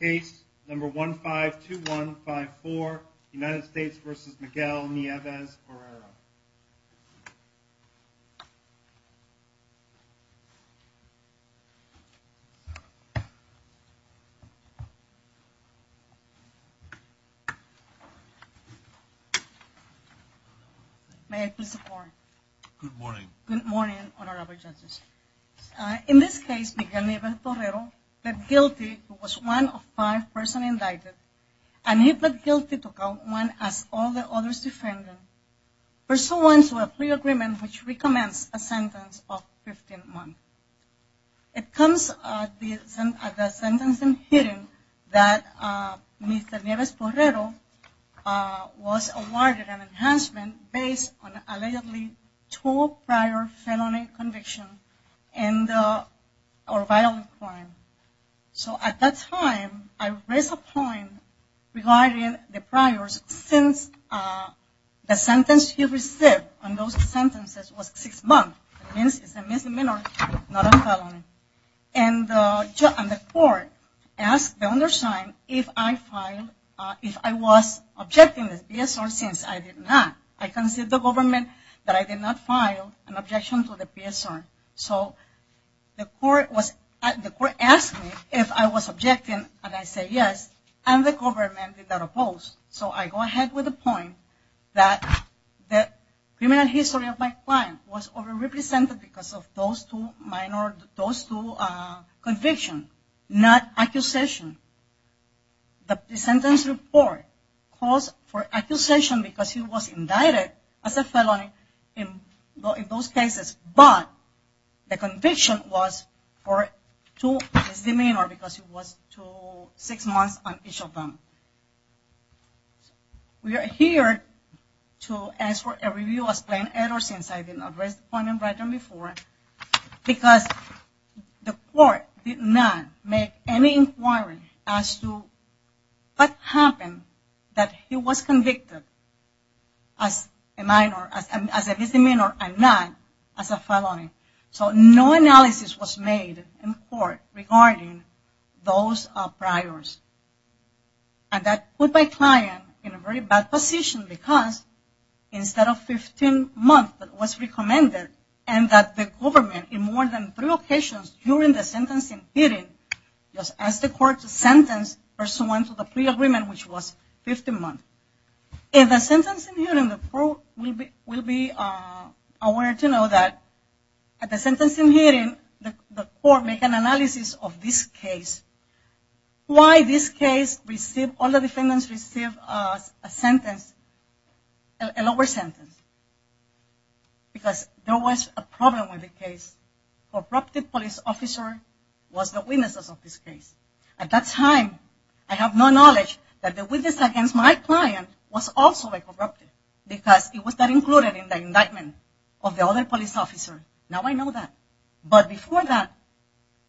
Case number 152154 United States v. Miguel Nieves-Borrero May I please have a word? Good morning. Good morning, Honorable Justice. In this case, Miguel Nieves-Borrero pleaded guilty to one of five persons indicted, and he pleaded guilty to count one as all the others defended, pursuant to a plea agreement which recommends a sentence of 15 months. It comes at the sentencing hearing that Mr. Nieves-Borrero was awarded an enhancement based on allegedly two prior felony convictions or violent crime. So at that time, I raised a point regarding the priors since the sentence he received on those sentences was six months. That means it's a misdemeanor, not a felony. And the court asked the undersigned if I was objecting this PSR since I did not. I can see the government that I did not file an objection to the PSR. So the court asked me if I was objecting, and I said yes. And the government did not oppose. So I go ahead with the point that the criminal history of my client was overrepresented because of those two minor convictions, not accusations. The sentence report calls for accusation because he was indicted as a felony in those cases, but the conviction was for two misdemeanors because it was six months on each of them. We are here to ask for a review as plain error since I did not raise the point in writing before because the court did not make any inquiry as to what happened that he was convicted as a misdemeanor and not as a felony. So no analysis was made in court regarding those priors. And that put my client in a very bad position because instead of 15 months that was recommended and that the government in more than three occasions during the sentencing hearing just asked the court to sentence the person to the plea agreement, which was 15 months. In the sentencing hearing, the court will be aware to know that at the sentencing hearing, the court will make an analysis of this case, why this case received, all the defendants received a lower sentence because there was a problem with the case. A corrupted police officer was the witness of this case. At that time, I have no knowledge that the witness against my client was also a corrupt because it was not included in the indictment of the other police officer. Now I know that. But before that,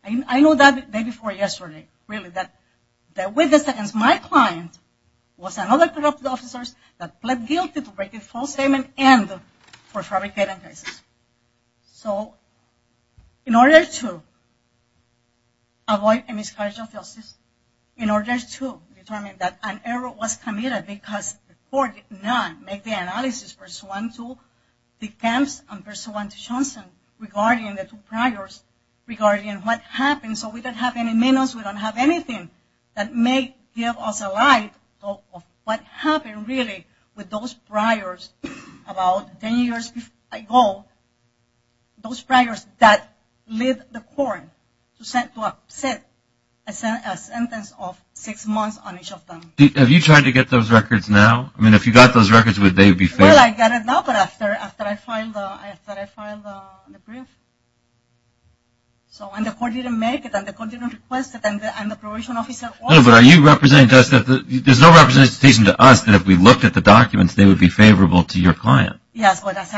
I know that day before yesterday, really, that the witness against my client was another corrupt officer that pled guilty to breaking false statement and for fabricating cases. So in order to avoid a miscarriage of justice, in order to determine that an error was committed because the court did not make the analysis pursuant to the camps and pursuant to Johnson regarding the two priors, regarding what happened. So we don't have any minutes. We don't have anything that may give us a light of what happened, really, with those priors about ten years ago, those priors that led the court to set a sentence of six months on each of them. Have you tried to get those records now? I mean, if you got those records, would they be favored? Well, I got it now, but after I filed the brief. And the court didn't make it, and the court didn't request it, and the probation officer also didn't make it. There's no representation to us that if we looked at the documents, they would be favorable to your client. Yes, but as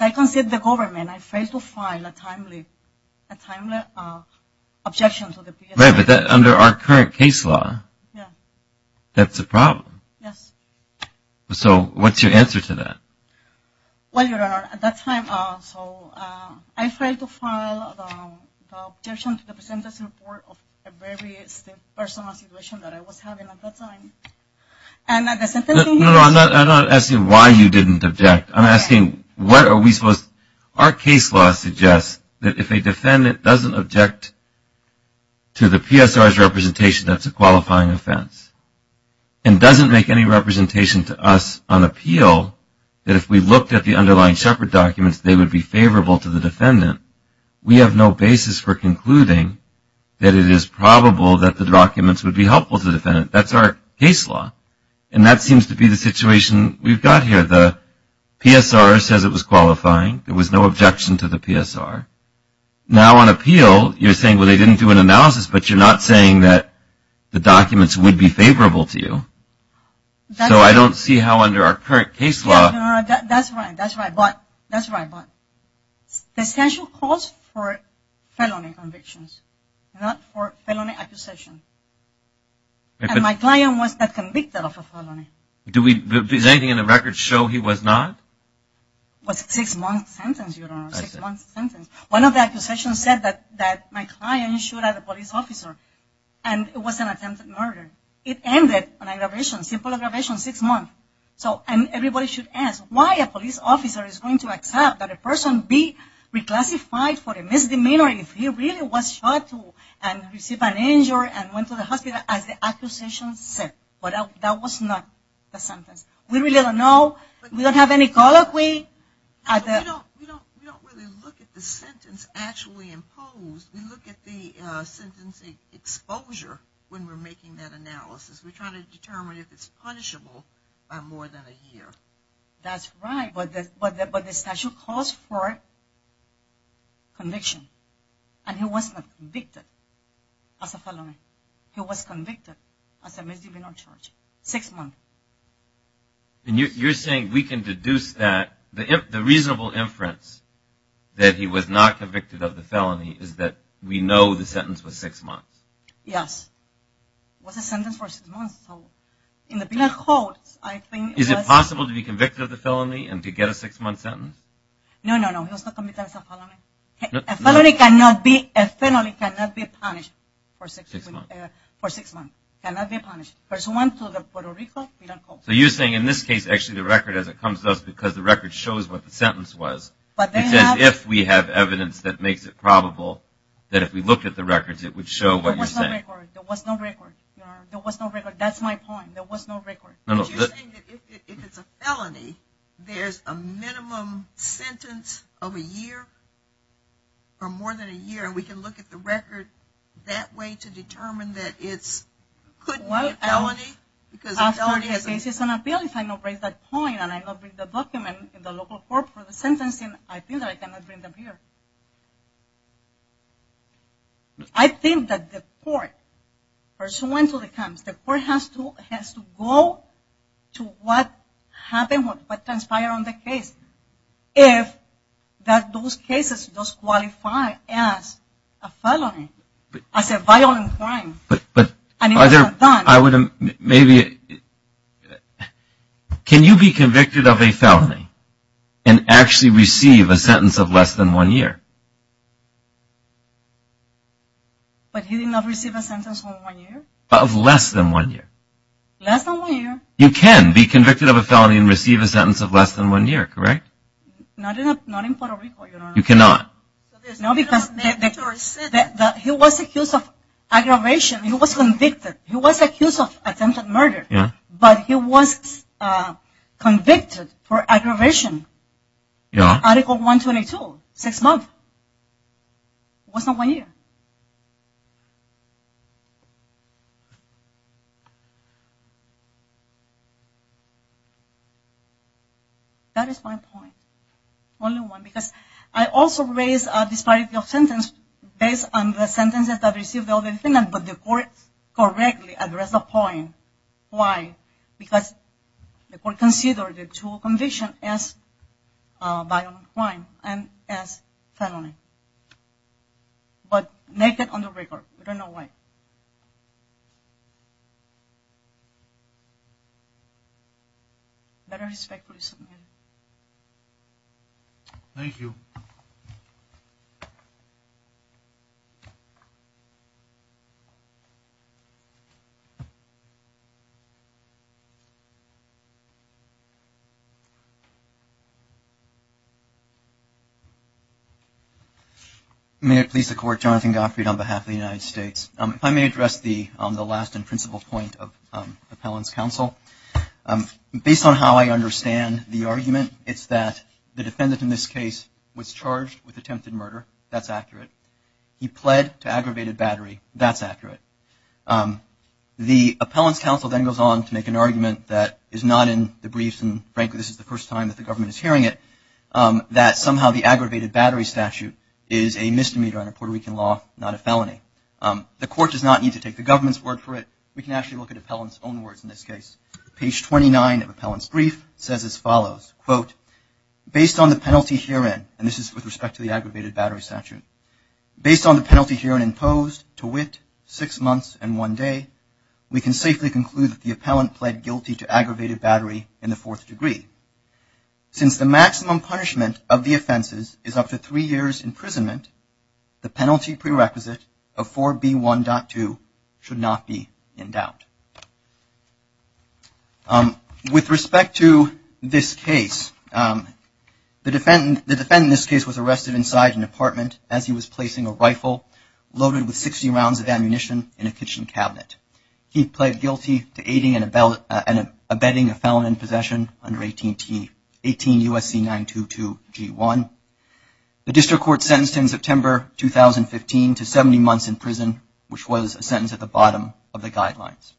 I considered the government, I failed to file a timely objection to the PSA. Right, but under our current case law, that's a problem. Yes. So what's your answer to that? Well, Your Honor, at that time, so I failed to file the objection to the presenter's report of a very personal situation that I was having at that time. And the sentencing was – No, no, I'm not asking why you didn't object. I'm asking what are we supposed – Our case law suggests that if a defendant doesn't object to the PSR's representation, that's a qualifying offense, and doesn't make any representation to us on appeal, that if we looked at the underlying Shepherd documents, they would be favorable to the defendant. We have no basis for concluding that it is probable that the documents would be helpful to the defendant. That's our case law, and that seems to be the situation we've got here. The PSR says it was qualifying. There was no objection to the PSR. Now on appeal, you're saying, well, they didn't do an analysis, but you're not saying that the documents would be favorable to you. So I don't see how under our current case law – That's right, that's right, but the statute calls for felony convictions, not for felony accusation. And my client was not convicted of a felony. Does anything in the records show he was not? It was a six-month sentence, your Honor, a six-month sentence. One of the accusations said that my client shot at a police officer, and it was an attempted murder. It ended on aggravation, simple aggravation, six months. So everybody should ask why a police officer is going to accept that a person be reclassified for a misdemeanor if he really was shot and received an injury and went to the hospital as the accusation said. But that was not the sentence. We really don't know. We don't have any colloquy. We don't really look at the sentence actually imposed. We look at the sentencing exposure when we're making that analysis. We try to determine if it's punishable by more than a year. That's right, but the statute calls for conviction. And he was not convicted as a felony. He was convicted as a misdemeanor charge, six months. And you're saying we can deduce that the reasonable inference that he was not convicted of the felony is that we know the sentence was six months? Yes. It was a sentence for six months. So in the penal code, I think it was. Is it possible to be convicted of the felony and to get a six-month sentence? No, no, no, he was not convicted as a felony. A felony cannot be punished for six months. It cannot be punished. There's one to the penal code. So you're saying in this case actually the record, as it comes to us, because the record shows what the sentence was, it says if we have evidence that makes it probable that if we looked at the records it would show what you're saying. There was no record. There was no record. That's my point. There was no record. You're saying that if it's a felony, there's a minimum sentence of a year or more than a year, and we can look at the record that way to determine that it couldn't be a felony because a felony has a minimum sentence. This is an appeal. If I don't raise that point and I don't bring the document in the local court for the sentencing, I feel that I cannot bring them here. I think that the court, pursuant to the terms, the court has to go to what happened, what transpired on the case. If those cases do qualify as a felony, as a violent crime. But can you be convicted of a felony and actually receive a sentence of less than one year? But he did not receive a sentence of one year? Of less than one year. Less than one year. You can be convicted of a felony and receive a sentence of less than one year, correct? Not in Puerto Rico. You cannot. No, because he was accused of aggravation. He was convicted. He was accused of attempted murder, but he was convicted for aggravation. Article 122, six months. Less than one year. That is my point. Only one. Because I also raised a disparity of sentence based on the sentences that received the other defendant, but the court correctly addressed the point. Why? Because the court considered the two convictions as violent crime and as felony. But naked on the record. We don't know why. Better respect police. Thank you. May it please the court. Jonathan Gottfried on behalf of the United States. If I may address the last and principal point of appellant's counsel. Based on how I understand the argument, it's that the defendant in this case was charged with attempted murder. That's accurate. He pled to aggravated battery. That's accurate. The appellant's counsel then goes on to make an argument that is not in the briefs, and frankly this is the first time that the government is hearing it, that somehow the aggravated battery statute is a misdemeanor under Puerto Rican law, not a felony. The court does not need to take the government's word for it. We can actually look at appellant's own words in this case. Page 29 of appellant's brief says as follows, quote, based on the penalty herein, and this is with respect to the aggravated battery statute, based on the penalty herein imposed to wit, six months and one day, we can safely conclude that the appellant pled guilty to aggravated battery in the fourth degree. Since the maximum punishment of the offenses is up to three years' imprisonment, the penalty prerequisite of 4B1.2 should not be in doubt. With respect to this case, the defendant in this case was arrested inside an apartment as he was placing a rifle loaded with 60 rounds of ammunition in a kitchen cabinet. He pled guilty to aiding and abetting a felon in possession under 18 U.S.C. 922-G1. The district court sentenced him September 2015 to 70 months in prison, which was a sentence at the bottom of the guidelines.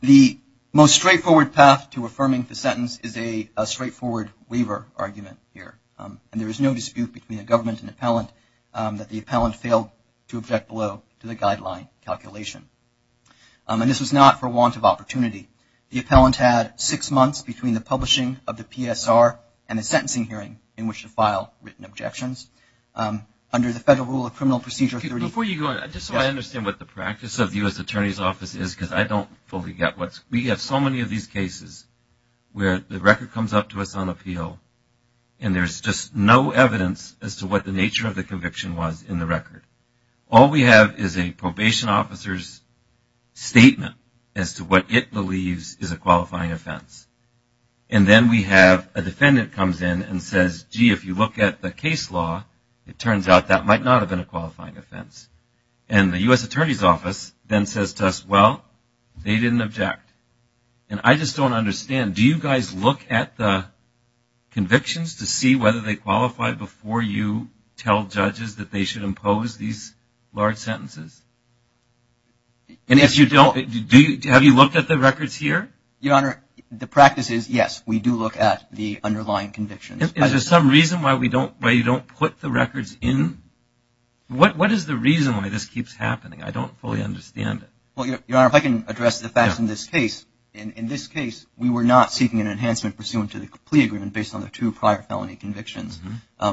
The most straightforward path to affirming the sentence is a straightforward waiver argument here, and there is no dispute between the government and appellant that the appellant failed to object below to the guideline calculation. And this was not for want of opportunity. The appellant had six months between the publishing of the PSR and the sentencing hearing in which to file written objections. Under the Federal Rule of Criminal Procedure 30- Before you go, just so I understand what the practice of the U.S. Attorney's Office is, because I don't fully get what's- we have so many of these cases where the record comes up to us on appeal, and there's just no evidence as to what the nature of the conviction was in the record. All we have is a probation officer's statement as to what it believes is a qualifying offense. And then we have a defendant comes in and says, gee, if you look at the case law, it turns out that might not have been a qualifying offense. And the U.S. Attorney's Office then says to us, well, they didn't object. And I just don't understand. Do you guys look at the convictions to see whether they qualify before you tell judges that they should impose these large sentences? And if you don't, do you- have you looked at the records here? Your Honor, the practice is, yes, we do look at the underlying convictions. Is there some reason why we don't- why you don't put the records in? What is the reason why this keeps happening? I don't fully understand it. Well, Your Honor, if I can address the facts in this case. In this case, we were not seeking an enhancement pursuant to the plea agreement based on the two prior felony convictions.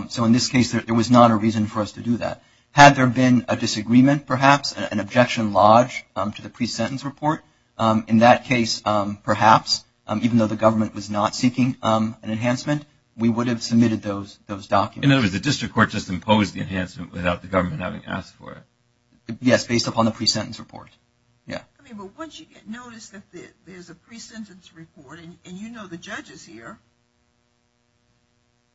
So in this case, there was not a reason for us to do that. Had there been a disagreement, perhaps, an objection lodged to the pre-sentence report, in that case, perhaps, even though the government was not seeking an enhancement, we would have submitted those documents. In other words, the district court just imposed the enhancement without the government having asked for it? Yes, based upon the pre-sentence report. Yeah. I mean, but once you get noticed that there's a pre-sentence report, and you know the judges here,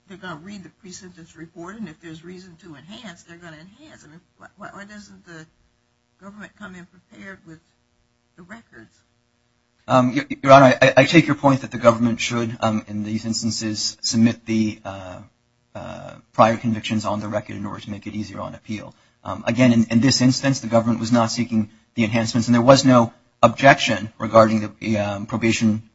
they're going to read the pre-sentence report, and if there's reason to enhance, they're going to enhance. I mean, why doesn't the government come in prepared with the records? Your Honor, I take your point that the government should, in these instances, submit the prior convictions on the record in order to make it easier on appeal. Again, in this instance, the government was not seeking the enhancements, and there was no objection regarding the probation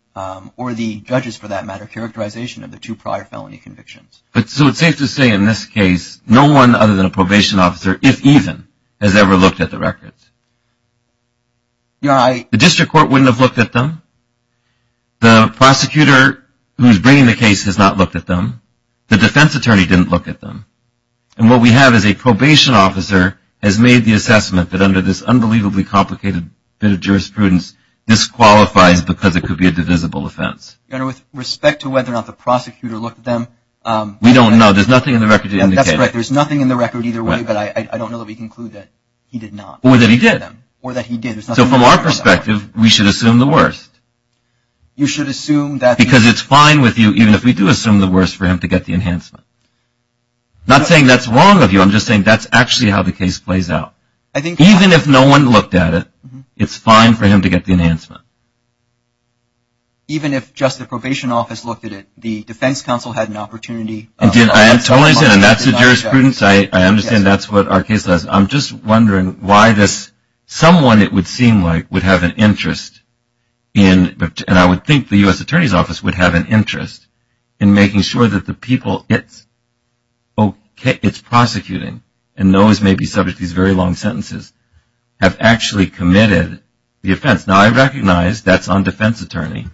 or the judges, for that matter, characterization of the two prior felony convictions. So it's safe to say, in this case, no one other than a probation officer, if even, has ever looked at the records? Your Honor, I — The district court wouldn't have looked at them? The prosecutor who's bringing the case has not looked at them. The defense attorney didn't look at them. And what we have is a probation officer has made the assessment that, under this unbelievably complicated bit of jurisprudence, this qualifies because it could be a divisible offense. Your Honor, with respect to whether or not the prosecutor looked at them — We don't know. There's nothing in the record to indicate. That's correct. There's nothing in the record either way, but I don't know that we conclude that he did not. Or that he did. Or that he did. So from our perspective, we should assume the worst. You should assume that — Because it's fine with you, even if we do assume the worst, for him to get the enhancement. I'm not saying that's wrong of you. I'm just saying that's actually how the case plays out. Even if no one looked at it, it's fine for him to get the enhancement. Even if just the probation office looked at it, the defense counsel had an opportunity — I totally understand. And that's the jurisprudence. I understand that's what our case does. I'm just wondering why this — someone, it would seem like, would have an interest in — and I would think the U.S. Attorney's Office would have an interest in making sure that the people it's prosecuting and those may be subject to these very long sentences, have actually committed the offense. Now, I recognize that's on defense attorney,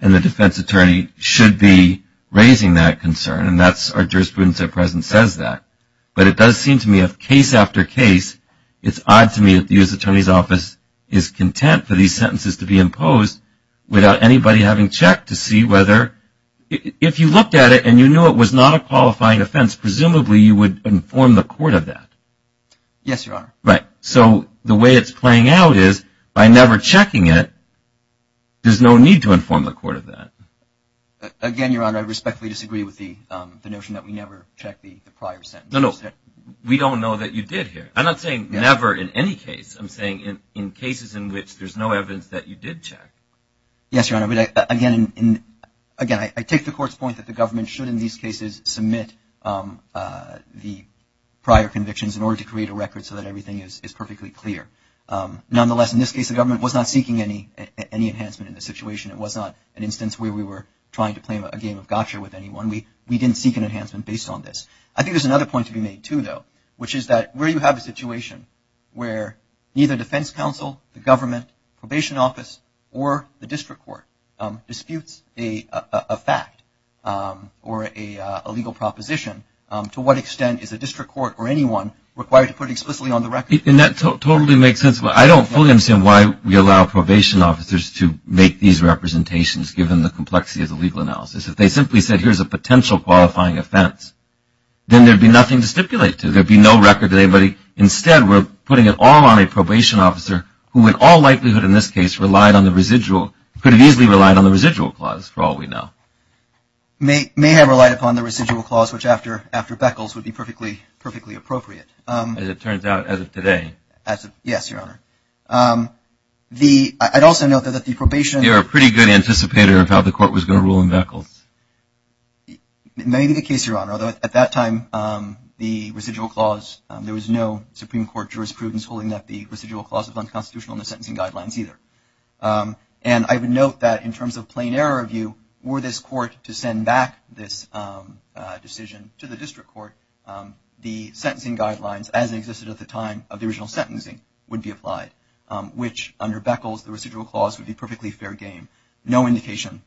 and the defense attorney should be raising that concern. And that's — our jurisprudence at present says that. But it does seem to me, if case after case, it's odd to me that the U.S. Attorney's Office is content for these sentences to be imposed without anybody having checked to see whether — if you looked at it and you knew it was not a qualifying offense, presumably you would inform the court of that. Yes, Your Honor. Right. So the way it's playing out is, by never checking it, there's no need to inform the court of that. Again, Your Honor, I respectfully disagree with the notion that we never check the prior sentence. No, no. We don't know that you did here. I'm not saying never in any case. I'm saying in cases in which there's no evidence that you did check. Yes, Your Honor. Again, I take the court's point that the government should, in these cases, submit the prior convictions in order to create a record so that everything is perfectly clear. Nonetheless, in this case, the government was not seeking any enhancement in the situation. It was not an instance where we were trying to play a game of gotcha with anyone. We didn't seek an enhancement based on this. I think there's another point to be made, too, though, which is that where you have a situation where neither defense counsel, the government, probation office, or the district court disputes a fact or a legal proposition, to what extent is a district court or anyone required to put it explicitly on the record? And that totally makes sense. I don't fully understand why we allow probation officers to make these representations, given the complexity of the legal analysis. If they simply said, here's a potential qualifying offense, then there would be nothing to stipulate to. There would be no record to anybody. Instead, we're putting it all on a probation officer who, in all likelihood in this case, could have easily relied on the residual clause, for all we know. May have relied upon the residual clause, which, after Beckles, would be perfectly appropriate. As it turns out, as of today. Yes, Your Honor. I'd also note that the probation. You're a pretty good anticipator of how the court was going to rule in Beckles. Maybe the case, Your Honor. Although, at that time, the residual clause, there was no Supreme Court jurisprudence holding that the residual clause was unconstitutional in the sentencing guidelines either. And I would note that, in terms of plain error of view, were this court to send back this decision to the district court, the sentencing guidelines, as existed at the time of the original sentencing, would be applied. Which, under Beckles, the residual clause would be perfectly fair game. No indication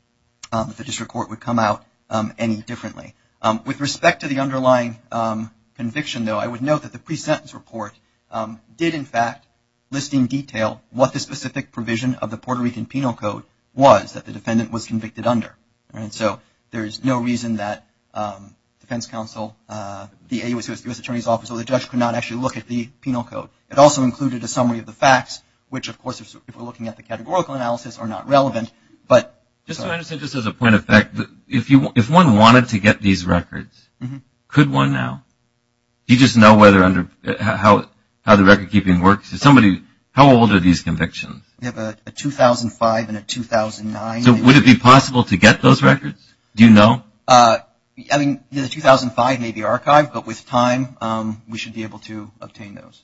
that the district court would come out any differently. With respect to the underlying conviction, though, I would note that the pre-sentence report did, in fact, list in detail what the specific provision of the Puerto Rican Penal Code was that the defendant was convicted under. And so there is no reason that defense counsel, the U.S. Attorney's Office, or the judge could not actually look at the Penal Code. It also included a summary of the facts, which, of course, if we're looking at the categorical analysis, are not relevant. But. Just as a point of fact, if one wanted to get these records, could one now? Do you just know how the record keeping works? How old are these convictions? We have a 2005 and a 2009. So would it be possible to get those records? Do you know? I mean, the 2005 may be archived. But with time, we should be able to obtain those.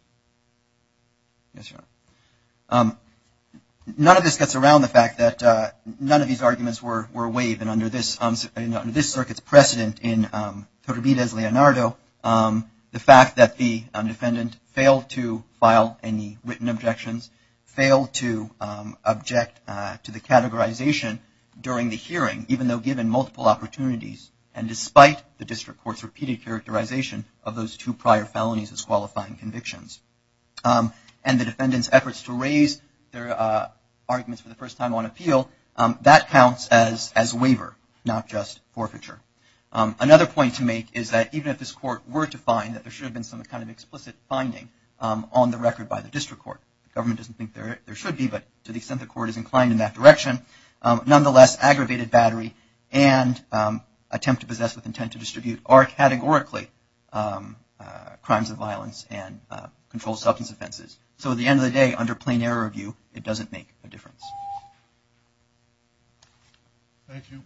None of this gets around the fact that none of these arguments were waived. And under this circuit's precedent in Torribide's Leonardo, the fact that the defendant failed to file any written objections, failed to object to the categorization during the hearing, even though given multiple opportunities, and despite the district court's repeated characterization of those two prior felonies as qualifying convictions, and the defendant's efforts to raise their arguments for the first time on appeal, that counts as waiver, not just forfeiture. Another point to make is that even if this court were to find that there should have been some kind of explicit finding on the record by the district court, the government doesn't think there should be, but to the extent the court is inclined in that direction, nonetheless, aggravated battery and attempt to possess with intent to distribute are categorically crimes of violence and controlled substance offenses. So at the end of the day, under plain error of view, it doesn't make a difference. Thank you. Thank you.